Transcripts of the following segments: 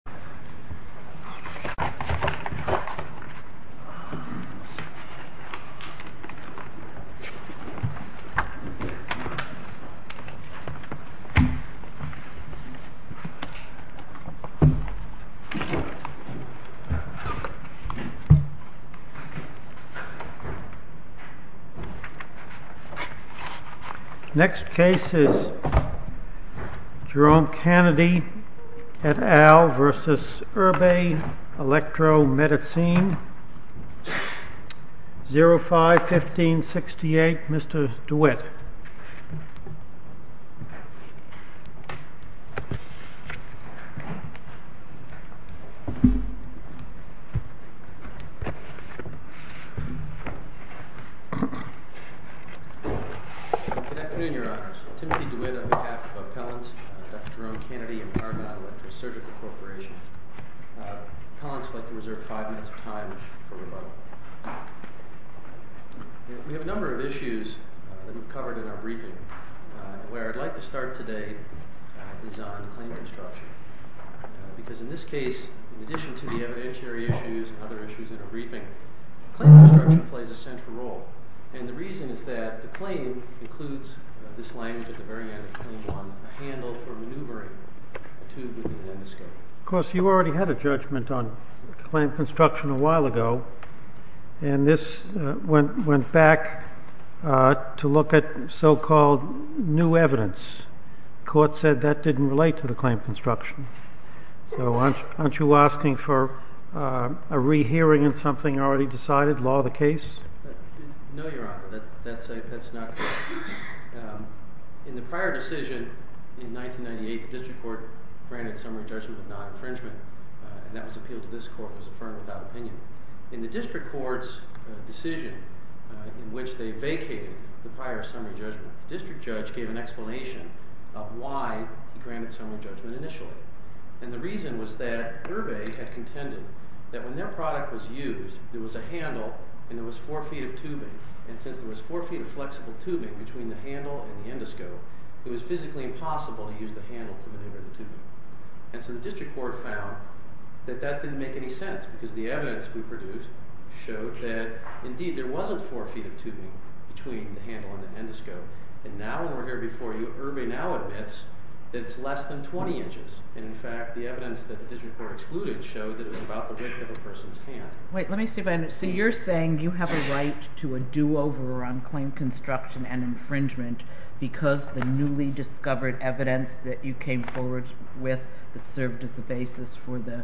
Erbe Elektromedizin v. Erbe Elektromedizin 05-1568, Mr. DeWitt. Good afternoon, Your Honors. Timothy DeWitt, on behalf of Appellants, Dr. Jerome Canady, and Erbe Electrosurgical Corporation. Appellants would like to reserve five minutes of time for rebuttal. We have a number of issues that we've covered in our briefing. Where I'd like to start today is on claim construction. Because in this case, in addition to the evidentiary issues and other issues in our briefing, claim construction plays a central role. And the reason is that the claim includes this language at the very end of Claim 1, a handle for maneuvering a tube with an endoscope. Of course, you already had a judgment on claim construction a while ago. And this went back to look at so-called new evidence. The court said that didn't relate to the claim construction. So aren't you asking for a rehearing of something already decided, law of the case? No, Your Honor. That's not correct. In the prior decision in 1998, the district court granted summary judgment without infringement. And that was appealed to this court. It was affirmed without opinion. In the district court's decision in which they vacated the prior summary judgment, the district judge gave an explanation of why he granted summary judgment initially. And the reason was that Erbe had contended that when their product was used, there was a handle and there was four feet of tubing. And since there was four feet of flexible tubing between the handle and the endoscope, it was physically impossible to use the handle to maneuver the tubing. And so the district court found that that didn't make any sense because the evidence we produced showed that indeed there wasn't four feet of tubing between the handle and the endoscope. And now when we're here before you, Erbe now admits that it's less than 20 inches. And in fact, the evidence that the district court excluded showed that it was about the width of a person's hand. Wait. Let me see if I understand. So you're saying you have a right to a do-over on claim construction and infringement because the newly discovered evidence that you came forward with that served as the basis for the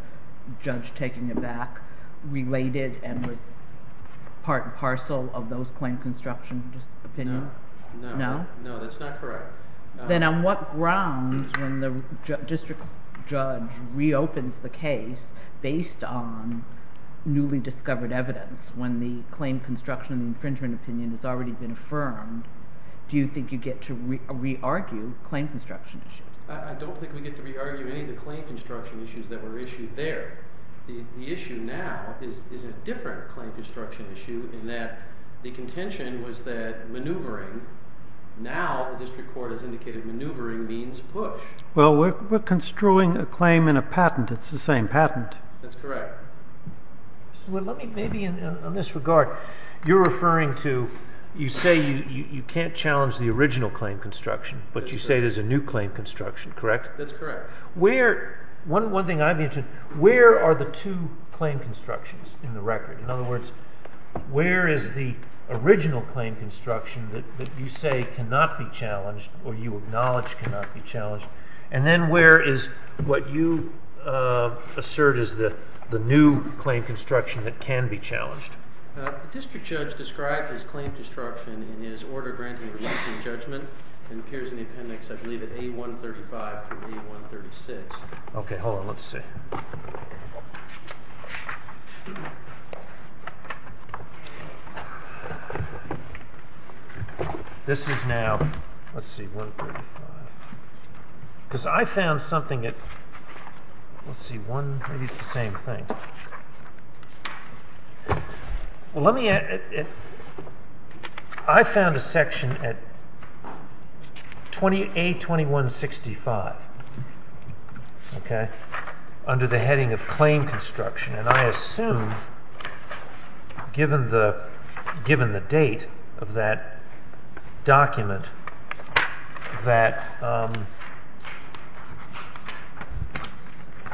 judge taking it back related and was part and parcel of those claim construction opinions? No. No, that's not correct. Then on what grounds when the district judge reopens the case based on newly discovered evidence when the claim construction and infringement opinion has already been affirmed, do you think you get to re-argue claim construction issues? I don't think we get to re-argue any of the claim construction issues that were issued there. The issue now is a different claim construction issue in that the contention was that maneuvering. Now the district court has indicated maneuvering means push. Well, we're construing a claim in a patent. It's the same patent. That's correct. Well, let me maybe in this regard, you're referring to you say you can't challenge the original claim construction, but you say there's a new claim construction, correct? That's correct. One thing I've mentioned, where are the two claim constructions in the record? In other words, where is the original claim construction that you say cannot be challenged or you acknowledge cannot be challenged, and then where is what you assert is the new claim construction that can be challenged? The district judge described his claim construction in his Order Granting Relenting Judgment. It appears in the appendix, I believe, at A135 and A136. Okay, hold on. Let's see. This is now, let's see, 135. Because I found something at, let's see, one, maybe it's the same thing. Well, let me, I found a section at A2165. Okay. Under the heading of claim construction. And I assume, given the date of that document, that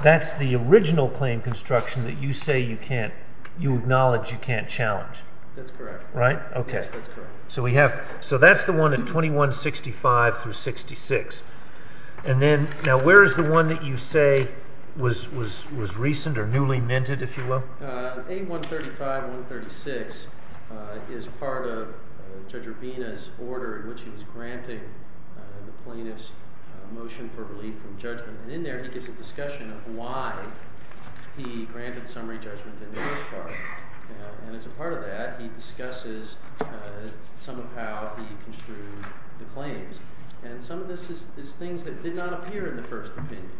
that's the original claim construction that you say you can't, you acknowledge you can't challenge. That's correct. Right? Okay. Yes, that's correct. So we have, so that's the one at 2165 through 66. And then, now where is the one that you say was recent or newly minted, if you will? A135, 136 is part of Judge Urbina's order in which he was granting the plaintiff's motion for relief from judgment. And in there he gives a discussion of why he granted summary judgment in the first part. And as a part of that, he discusses some of how he construed the claims. And some of this is things that did not appear in the first opinion.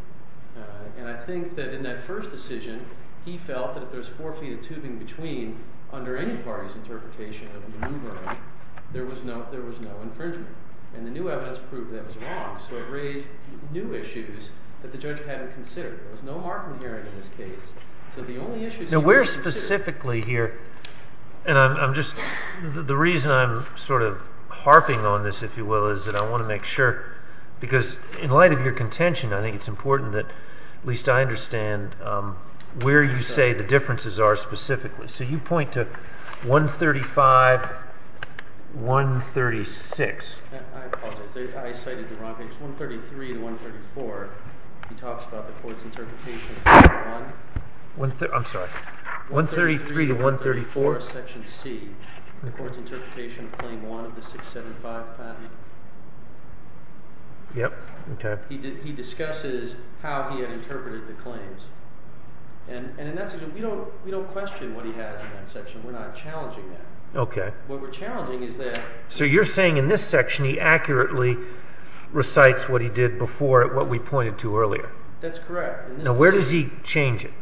And I think that in that first decision, he felt that if there was four feet of tubing between, under any party's interpretation of maneuvering, there was no infringement. And the new evidence proved that was wrong. So it raised new issues that the judge hadn't considered. There was no market hearing in this case. So the only issues... Now, where specifically here, and I'm just, the reason I'm sort of harping on this, if you will, is that I want to make sure, because in light of your contention, I think it's important that at least I understand where you say the differences are specifically. So you point to 135, 136. I apologize. I cited the wrong page. 133 to 134, he talks about the court's interpretation of maneuver 1. I'm sorry. 133 to 134? Section C, the court's interpretation of Claim 1 of the 675 patent. Yep. Okay. He discusses how he had interpreted the claims. And in that section, we don't question what he has in that section. We're not challenging that. Okay. What we're challenging is that... So you're saying in this section, he accurately recites what he did before at what we pointed to earlier. That's correct. Now, where does he change it?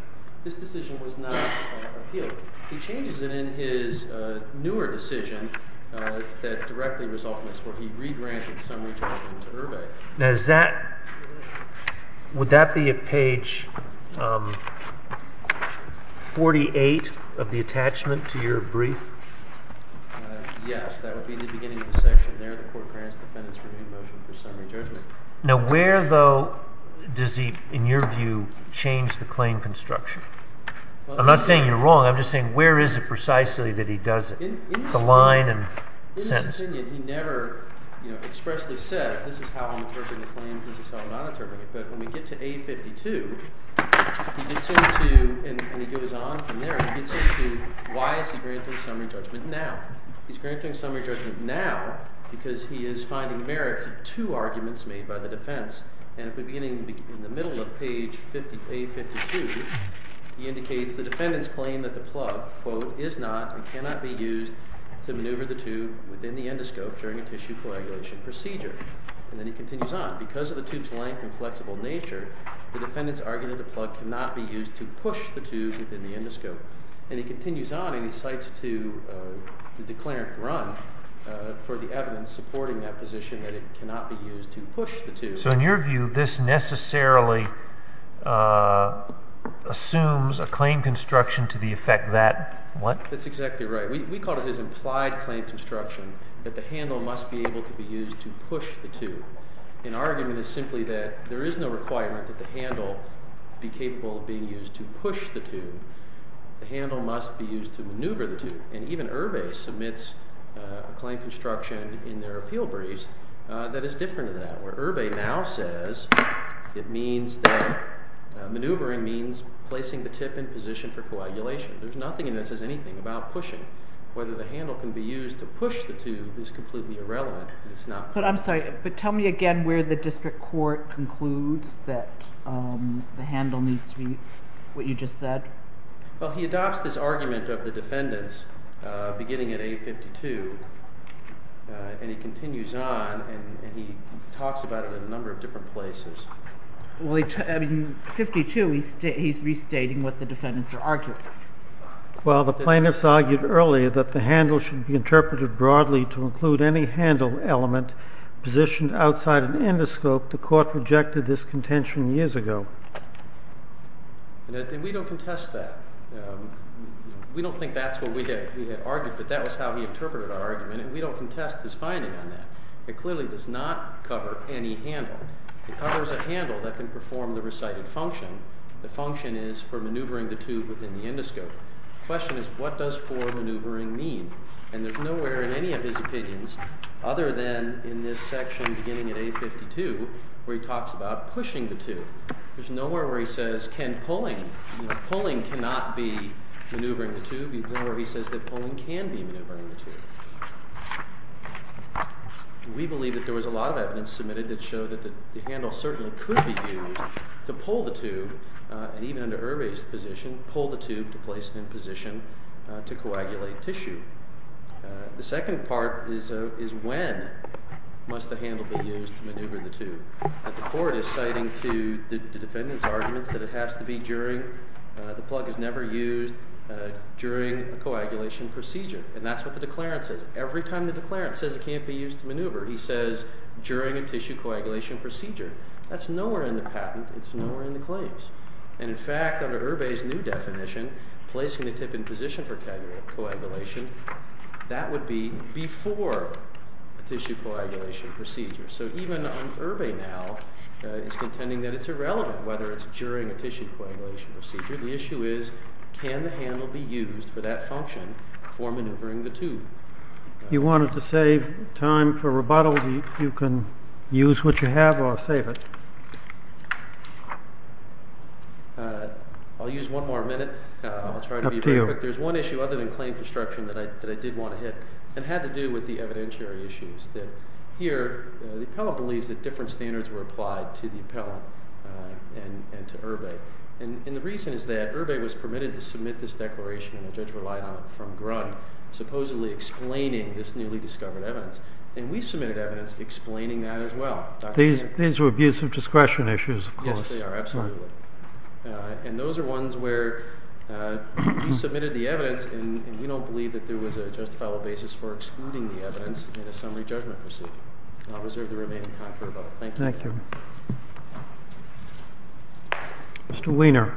This decision was not appealed. He changes it in his newer decision that directly resulted in this, where he re-granted summary judgment to Irving. Now, is that... would that be at page 48 of the attachment to your brief? Yes, that would be in the beginning of the section there. The court grants defendants renewed motion for summary judgment. Now, where, though, does he, in your view, change the claim construction? I'm not saying you're wrong. I'm just saying where is it precisely that he does it, the line and sentence? In his opinion, he never expressly says, this is how I'm interpreting the claim, this is how I'm not interpreting it. But when we get to A52, he gets into, and he goes on from there, he gets into why is he granting summary judgment now. He's granting summary judgment now because he is finding merit to two arguments made by the defense. And at the beginning, in the middle of page A52, he indicates the defendants claim that the plug, quote, is not and cannot be used to maneuver the tube within the endoscope during a tissue coagulation procedure. And then he continues on. Because of the tube's length and flexible nature, the defendants argue that the plug cannot be used to push the tube within the endoscope. And he continues on and he cites to the declarant run for the evidence supporting that position that it cannot be used to push the tube. So in your view, this necessarily assumes a claim construction to the effect that what? That's exactly right. We call it as implied claim construction that the handle must be able to be used to push the tube. In arguing this simply that there is no requirement that the handle be capable of being used to push the tube the handle must be used to maneuver the tube. And even Herve submits a claim construction in their appeal briefs that is different to that where Herve now says it means that maneuvering means placing the tip in position for coagulation. There's nothing in this that says anything about pushing. Whether the handle can be used to push the tube is completely irrelevant. But I'm sorry. But tell me again where the district court concludes that the handle needs to be what you just said? Well, he adopts this argument of the defendants beginning at 852. And he continues on and he talks about it in a number of different places. Well, in 52 he's restating what the defendants are arguing. Well, the plaintiffs argued earlier that the handle should be interpreted broadly to include any handle element positioned outside an endoscope. The court rejected this contention years ago. We don't contest that. We don't think that's what we had argued, but that was how he interpreted our argument. And we don't contest his finding on that. It clearly does not cover any handle. It covers a handle that can perform the recited function. The function is for maneuvering the tube within the endoscope. The question is what does foremaneuvering mean? And there's nowhere in any of his opinions other than in this section beginning at 852 where he talks about pushing the tube. There's nowhere where he says can pulling. Pulling cannot be maneuvering the tube. There's nowhere where he says that pulling can be maneuvering the tube. We believe that there was a lot of evidence submitted that showed that the handle certainly could be used to pull the tube, and even under Herve's position, pull the tube to place it in position to coagulate tissue. The second part is when must the handle be used to maneuver the tube. The court is citing to the defendant's arguments that it has to be during. The plug is never used during a coagulation procedure, and that's what the declarant says. Every time the declarant says it can't be used to maneuver, he says during a tissue coagulation procedure. That's nowhere in the patent. It's nowhere in the claims. And in fact, under Herve's new definition, placing the tip in position for coagulation, that would be before a tissue coagulation procedure. So even Herve now is contending that it's irrelevant whether it's during a tissue coagulation procedure. The issue is can the handle be used for that function for maneuvering the tube. You wanted to save time for rebuttal. You can use what you have or save it. I'll use one more minute. I'll try to be very quick. There's one issue other than claim construction that I did want to hit and had to do with the evidentiary issues. Here, the appellant believes that different standards were applied to the appellant and to Herve. And the reason is that Herve was permitted to submit this declaration, and the judge relied on it from Grund, supposedly explaining this newly discovered evidence. And we submitted evidence explaining that as well. These were abuse of discretion issues, of course. Yes, they are, absolutely. And those are ones where you submitted the evidence and you don't believe that there was a justifiable basis for excluding the evidence in a summary judgment procedure. I'll reserve the remaining time for rebuttal. Thank you. Thank you. Mr. Weiner.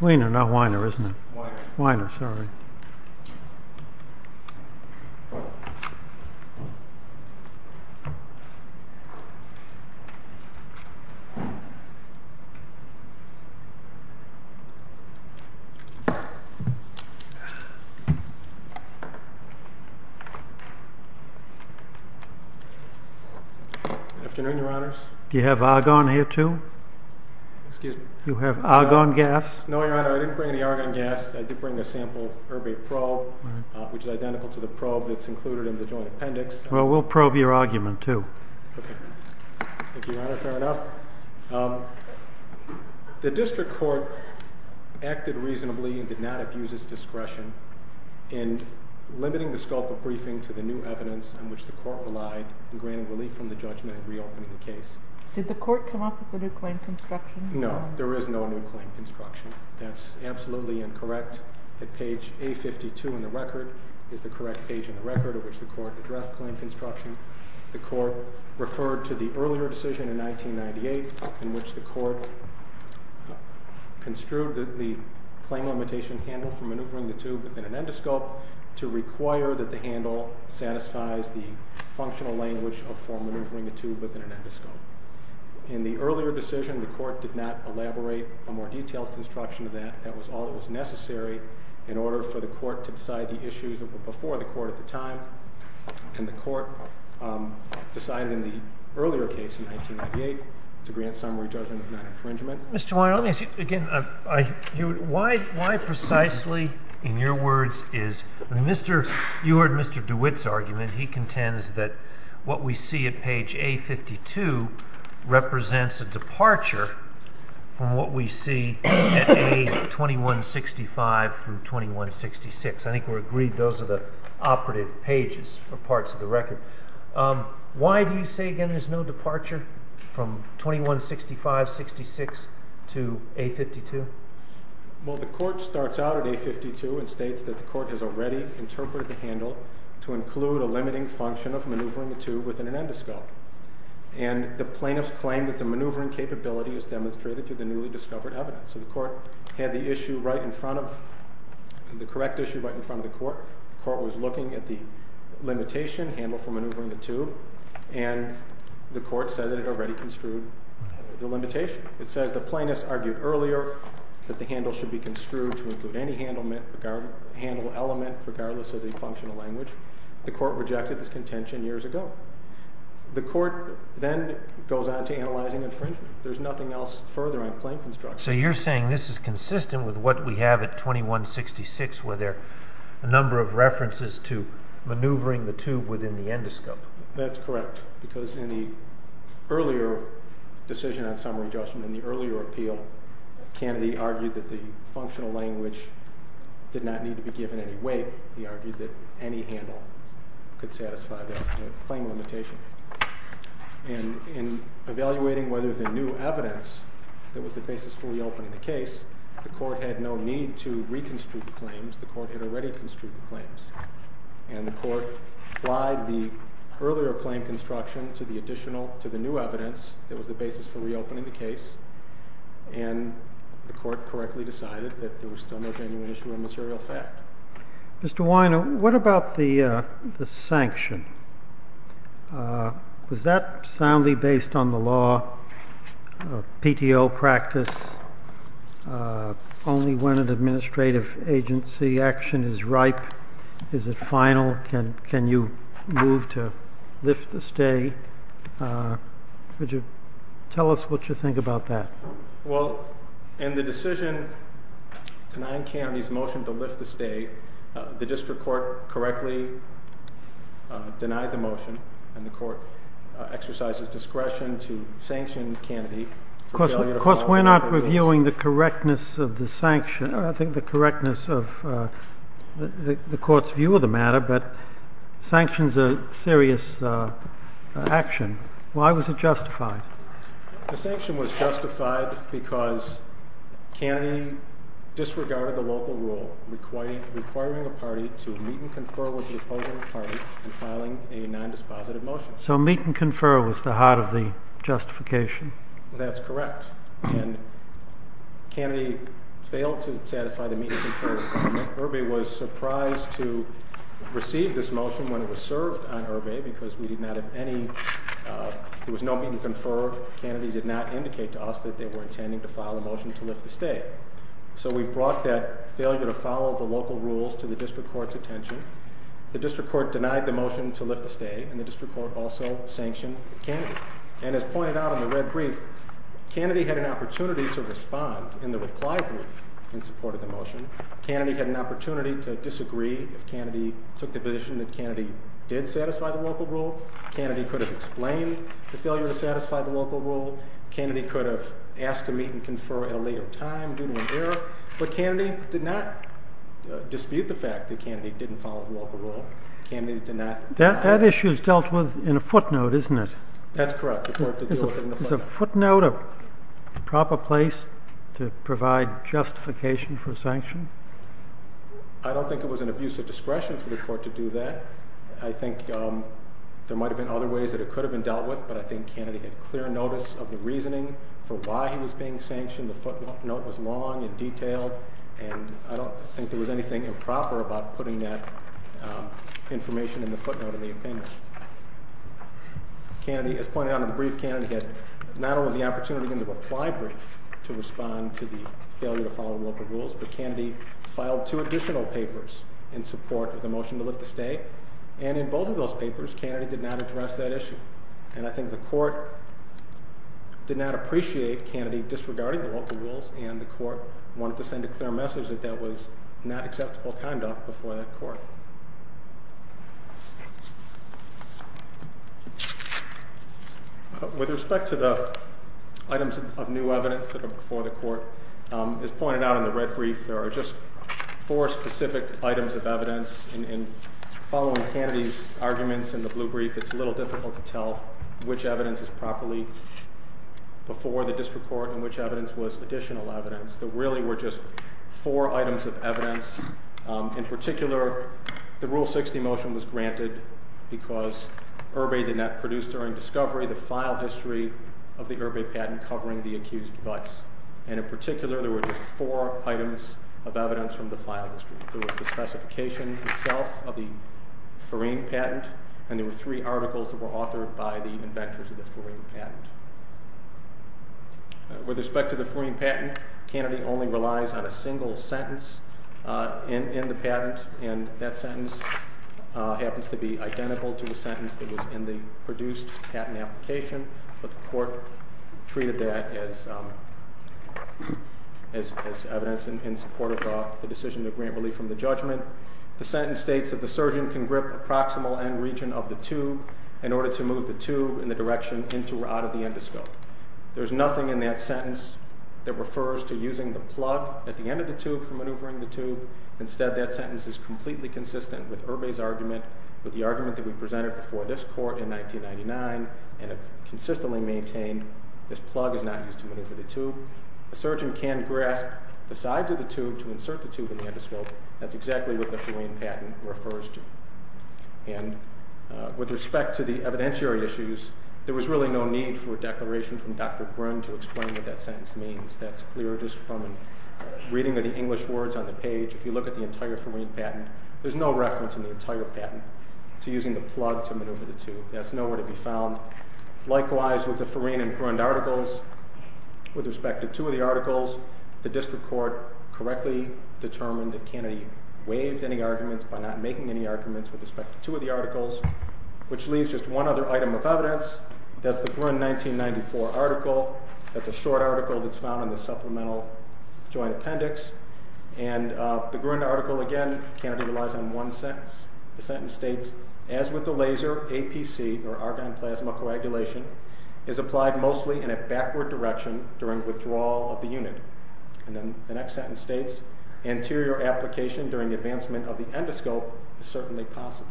Weiner, not Weiner, isn't it? Weiner. Weiner, sorry. Good afternoon, Your Honors. Do you have argon here, too? Excuse me? Do you have argon gas? No, Your Honor, I didn't bring any argon gas. I did bring a sample Herve probe, which is identical to the probe that's included in the joint appendix. Well, we'll probe your argument, too. Okay. Thank you, Your Honor. Fair enough. The district court acted reasonably and did not abuse its discretion in limiting the scope of briefing to the new evidence on which the court relied and granted relief from the judgment in reopening the case. Did the court come up with a new claim construction? No, there is no new claim construction. That's absolutely incorrect. Page A52 in the record is the correct page in the record on which the court addressed claim construction. The court referred to the earlier decision in 1998 in which the court construed the claim limitation handle for maneuvering the tube within an endoscope to require that the handle satisfies the functional language for maneuvering the tube within an endoscope. In the earlier decision, the court did not elaborate a more detailed construction of that. That was all that was necessary in order for the court to decide the issues that were before the court at the time, and the court decided in the earlier case in 1998 to grant summary judgment of non-infringement. Mr. Weiner, let me ask you again. Why precisely, in your words, is... I mean, you heard Mr. DeWitt's argument. He contends that what we see at page A52 represents a departure from what we see at A2165 through 2166. I think we're agreed those are the operative pages or parts of the record. Why do you say, again, there's no departure from 2165-66 to A52? Well, the court starts out at A52 and states that the court has already interpreted the handle to include a limiting function of maneuvering the tube within an endoscope, and the plaintiffs claim that the maneuvering capability is demonstrated through the newly discovered evidence. So the court had the issue right in front of... the correct issue right in front of the court. The court was looking at the limitation handle for maneuvering the tube, and the court said that it already construed the limitation. It says the plaintiffs argued earlier that the handle should be construed to include any handle element regardless of the functional language. The court rejected this contention years ago. The court then goes on to analyzing infringement. There's nothing else further on claim construction. So you're saying this is consistent with what we have at 2166 where there are a number of references to maneuvering the tube within the endoscope. That's correct, because in the earlier decision on summary judgment, in the earlier appeal, Kennedy argued that the functional language did not need to be given any weight. He argued that any handle could satisfy that claim limitation. And in evaluating whether the new evidence that was the basis for reopening the case, the court had no need to reconstitute the claims. The court had already construed the claims. And the court applied the earlier claim construction to the additional, to the new evidence that was the basis for reopening the case, and the court correctly decided that there was still no genuine issue or material fact. Mr. Weiner, what about the sanction? Was that soundly based on the law, PTO practice, only when an administrative agency action is ripe is it final? Can you move to lift the stay? Could you tell us what you think about that? Well, in the decision denying Kennedy's motion to lift the stay, the district court correctly denied the motion, and the court exercises discretion to sanction Kennedy. Of course, we're not reviewing the correctness of the sanction, I think the correctness of the court's view of the matter, but sanction's a serious action. Why was it justified? The sanction was justified because Kennedy disregarded the local rule requiring a party to meet and confer with the opposing party in filing a non-dispositive motion. So meet and confer was the heart of the justification. That's correct. And Kennedy failed to satisfy the meet and confer requirement. Irving was surprised to receive this motion when it was served on Irving because we did not have any, there was no meet and confer. Kennedy did not indicate to us that they were intending to file a motion to lift the stay. So we brought that failure to follow the local rules to the district court's attention. The district court denied the motion to lift the stay, and the district court also sanctioned Kennedy. And as pointed out in the red brief, Kennedy had an opportunity to respond in the reply brief in support of the motion. Kennedy had an opportunity to disagree if Kennedy took the position that Kennedy did satisfy the local rule. Kennedy could have explained the failure to satisfy the local rule. Kennedy could have asked to meet and confer at a later time due to an error. But Kennedy did not dispute the fact that Kennedy didn't follow the local rule. Kennedy did not. That issue is dealt with in a footnote, isn't it? That's correct. Is a footnote a proper place to provide justification for sanction? I don't think it was an abuse of discretion for the court to do that. I think there might have been other ways that it could have been dealt with, but I think Kennedy had clear notice of the reasoning for why he was being sanctioned. The footnote was long and detailed, and I don't think there was anything improper about putting that information in the footnote in the opinion. Kennedy, as pointed out in the brief, Kennedy had not only the opportunity in the reply brief to respond to the failure to follow local rules, but Kennedy filed two additional papers in support of the motion to lift the stay. And in both of those papers, Kennedy did not address that issue. And I think the court did not appreciate Kennedy disregarding the local rules, and the court wanted to send a clear message that that was not acceptable conduct before that court. With respect to the items of new evidence that are before the court, as pointed out in the red brief, there are just four specific items of evidence. And following Kennedy's arguments in the blue brief, it's a little difficult to tell which evidence is properly before the district court and which evidence was additional evidence. There really were just four items of evidence. In particular, the Rule 60 motion was granted because Irby did not produce during discovery the file history of the Irby patent covering the accused vice. And in particular, there were just four items of evidence from the file history. There was the specification itself of the Forine patent, and there were three articles that were authored by the inventors of the Forine patent. With respect to the Forine patent, Kennedy only relies on a single sentence in the patent, and that sentence happens to be identical to the sentence that was in the produced patent application, but the court treated that as evidence in support of the decision to grant relief from the judgment. The sentence states that the surgeon can grip the proximal end region of the tube in order to move the tube in the direction into or out of the endoscope. There's nothing in that sentence that refers to using the plug at the end of the tube for maneuvering the tube. Instead, that sentence is completely consistent with Irby's argument, with the argument that we presented before this court in 1999, and it consistently maintained this plug is not used to maneuver the tube. The surgeon can grasp the sides of the tube to insert the tube in the endoscope. That's exactly what the Forine patent refers to. And with respect to the evidentiary issues, there was really no need for a declaration from Dr. Bryn to explain what that sentence means. That's clear just from a reading of the English words on the page. If you look at the entire Forine patent, there's no reference in the entire patent to using the plug to maneuver the tube. That's nowhere to be found. Likewise, with the Forine and Grund articles, with respect to two of the articles, the district court correctly determined that Kennedy waived any arguments by not making any arguments with respect to two of the articles, which leaves just one other item of evidence. That's the Grund 1994 article. That's a short article that's found in the supplemental joint appendix. And the Grund article, again, Kennedy relies on one sentence. The sentence states, as with the laser, APC, or argon plasma coagulation, is applied mostly in a backward direction during withdrawal of the unit. And then the next sentence states, anterior application during advancement of the endoscope is certainly possible.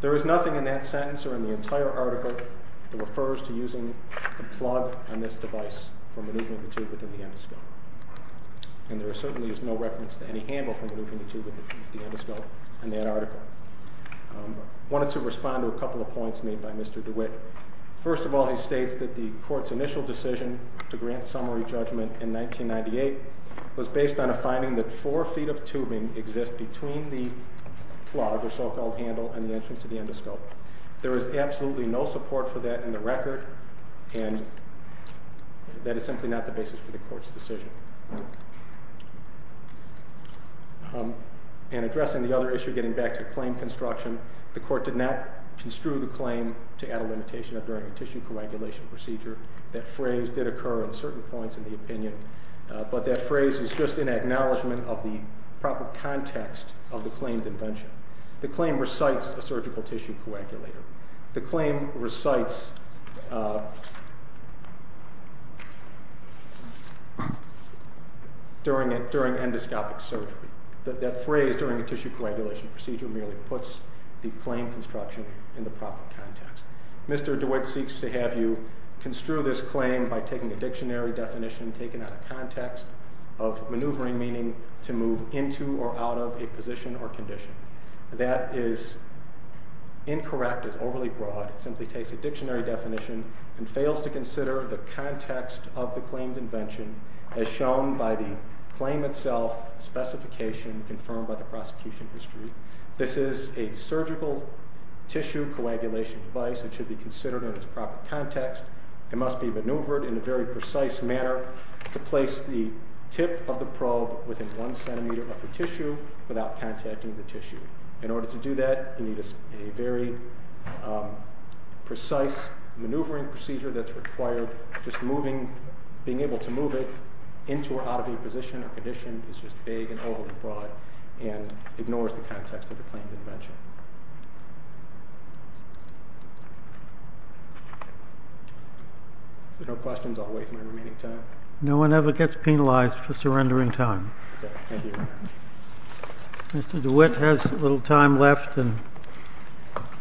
There is nothing in that sentence or in the entire article that refers to using the plug on this device for maneuvering the tube within the endoscope. And there certainly is no reference to any handle for maneuvering the tube within the endoscope in that article. I wanted to respond to a couple of points made by Mr. DeWitt. First of all, he states that the court's initial decision to grant summary judgment in 1998 was based on a finding that four feet of tubing exists between the plug, or so-called handle, and the entrance to the endoscope. There is absolutely no support for that in the record, and that is simply not the basis for the court's decision. And addressing the other issue, getting back to claim construction, the court did not construe the claim to add a limitation of during a tissue coagulation procedure. That phrase did occur at certain points in the opinion, but that phrase is just an acknowledgment of the proper context of the claimed invention. The claim recites a surgical tissue coagulator. The claim recites during endoscopic surgery. That phrase, during a tissue coagulation procedure, merely puts the claim construction in the proper context. Mr. DeWitt seeks to have you construe this claim by taking a dictionary definition taken out of context of maneuvering meaning to move into or out of a position or condition. That is incorrect. It's overly broad. It simply takes a dictionary definition and fails to consider the context of the claimed invention as shown by the claim itself specification confirmed by the prosecution history. This is a surgical tissue coagulation device. It should be considered in its proper context. It must be maneuvered in a very precise manner to place the tip of the probe within one centimeter of the tissue without contacting the tissue. In order to do that, you need a very precise maneuvering procedure that's required just moving, being able to move it into or out of a position or condition. It's just vague and overly broad and ignores the context of the claimed invention. If there are no questions, I'll wait for the remaining time. No one ever gets penalized for surrendering time. Mr. DeWitt has a little time left.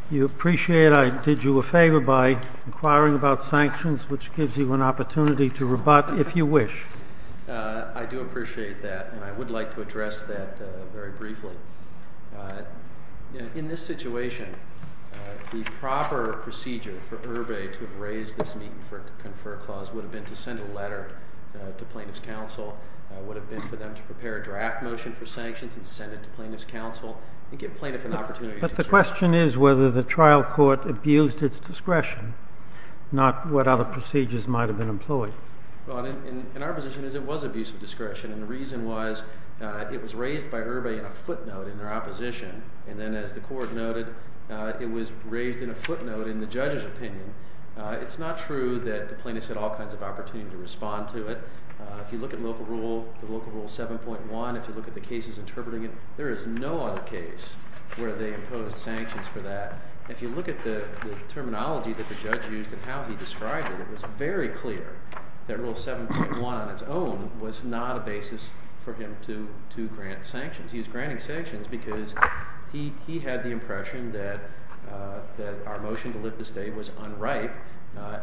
You appreciate I did you a favor by inquiring about sanctions, which gives you an opportunity to rebut if you wish. I do appreciate that, and I would like to address that very briefly. In this situation, the proper procedure for Irby to have raised this meeting for a confer clause would have been to send a letter to plaintiff's counsel. It would have been for them to prepare a draft motion for sanctions and send it to plaintiff's counsel and give plaintiff an opportunity. But the question is whether the trial court abused its discretion, not what other procedures might have been employed. Our position is it was abuse of discretion, and the reason was it was raised by Irby in a footnote in their opposition. And then, as the court noted, it was raised in a footnote in the judge's opinion. It's not true that the plaintiff had all kinds of opportunity to respond to it. If you look at local rule 7.1, if you look at the cases interpreting it, there is no other case where they imposed sanctions for that. If you look at the terminology that the judge used and how he described it, it was very clear that rule 7.1 on its own was not a basis for him to grant sanctions. He was granting sanctions because he had the impression that our motion to lift the state was unripe,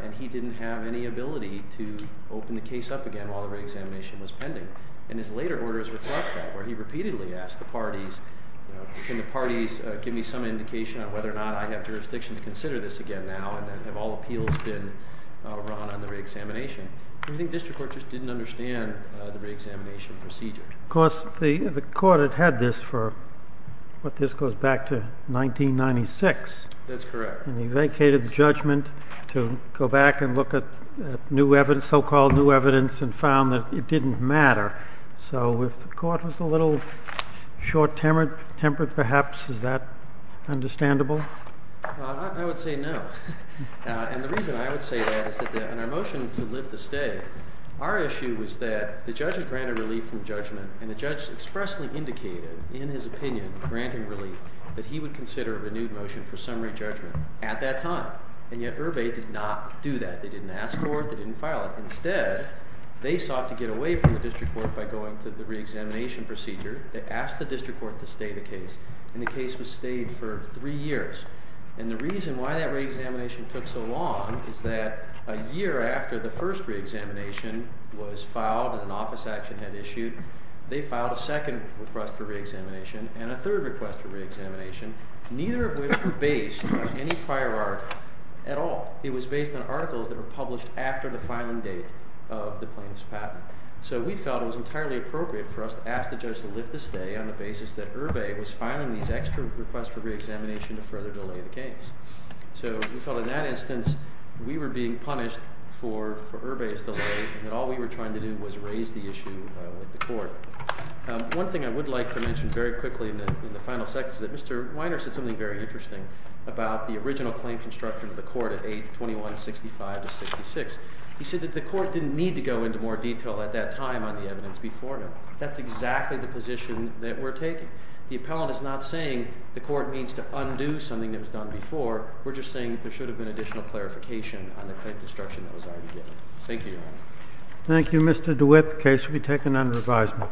and he didn't have any ability to open the case up again while the re-examination was pending. And his later orders reflect that, where he repeatedly asked the parties, can the parties give me some indication on whether or not I have jurisdiction to consider this again now, and have all appeals been run on the re-examination? I think district courts just didn't understand the re-examination procedure. Of course, the court had had this for, what, this goes back to 1996. That's correct. And he vacated the judgment to go back and look at so-called new evidence and found that it didn't matter. So if the court was a little short-tempered, perhaps, is that understandable? I would say no. And the reason I would say that is that in our motion to lift the state, our issue was that the judge had granted relief from judgment, and the judge expressly indicated in his opinion, granting relief, that he would consider a renewed motion for summary judgment at that time. And yet, Irby did not do that. They didn't ask for it. They didn't file it. Instead, they sought to get away from the district court by going to the re-examination procedure. They asked the district court to stay the case, and the case was stayed for three years. And the reason why that re-examination took so long is that a year after the first re-examination was filed and an office action had issued, they filed a second request for re-examination and a third request for re-examination. Neither of which were based on any prior art at all. It was based on articles that were published after the filing date of the plaintiff's patent. So we felt it was entirely appropriate for us to ask the judge to lift the state on the basis that Irby was filing these extra requests for re-examination to further delay the case. So we felt in that instance we were being punished for Irby's delay and all we were trying to do was raise the issue with the court. One thing I would like to mention very quickly in the final section is that Mr. Weiner said something very interesting about the original claim construction of the court at age 2165 to 66. He said that the court didn't need to go into more detail at that time on the evidence before him. That's exactly the position that we're taking. The appellant is not saying the court needs to undo something that was done before. We're just saying there should have been additional clarification on the claim construction that was already given. Thank you, Your Honor. Thank you, Mr. DeWitt. The case will be taken under advisement.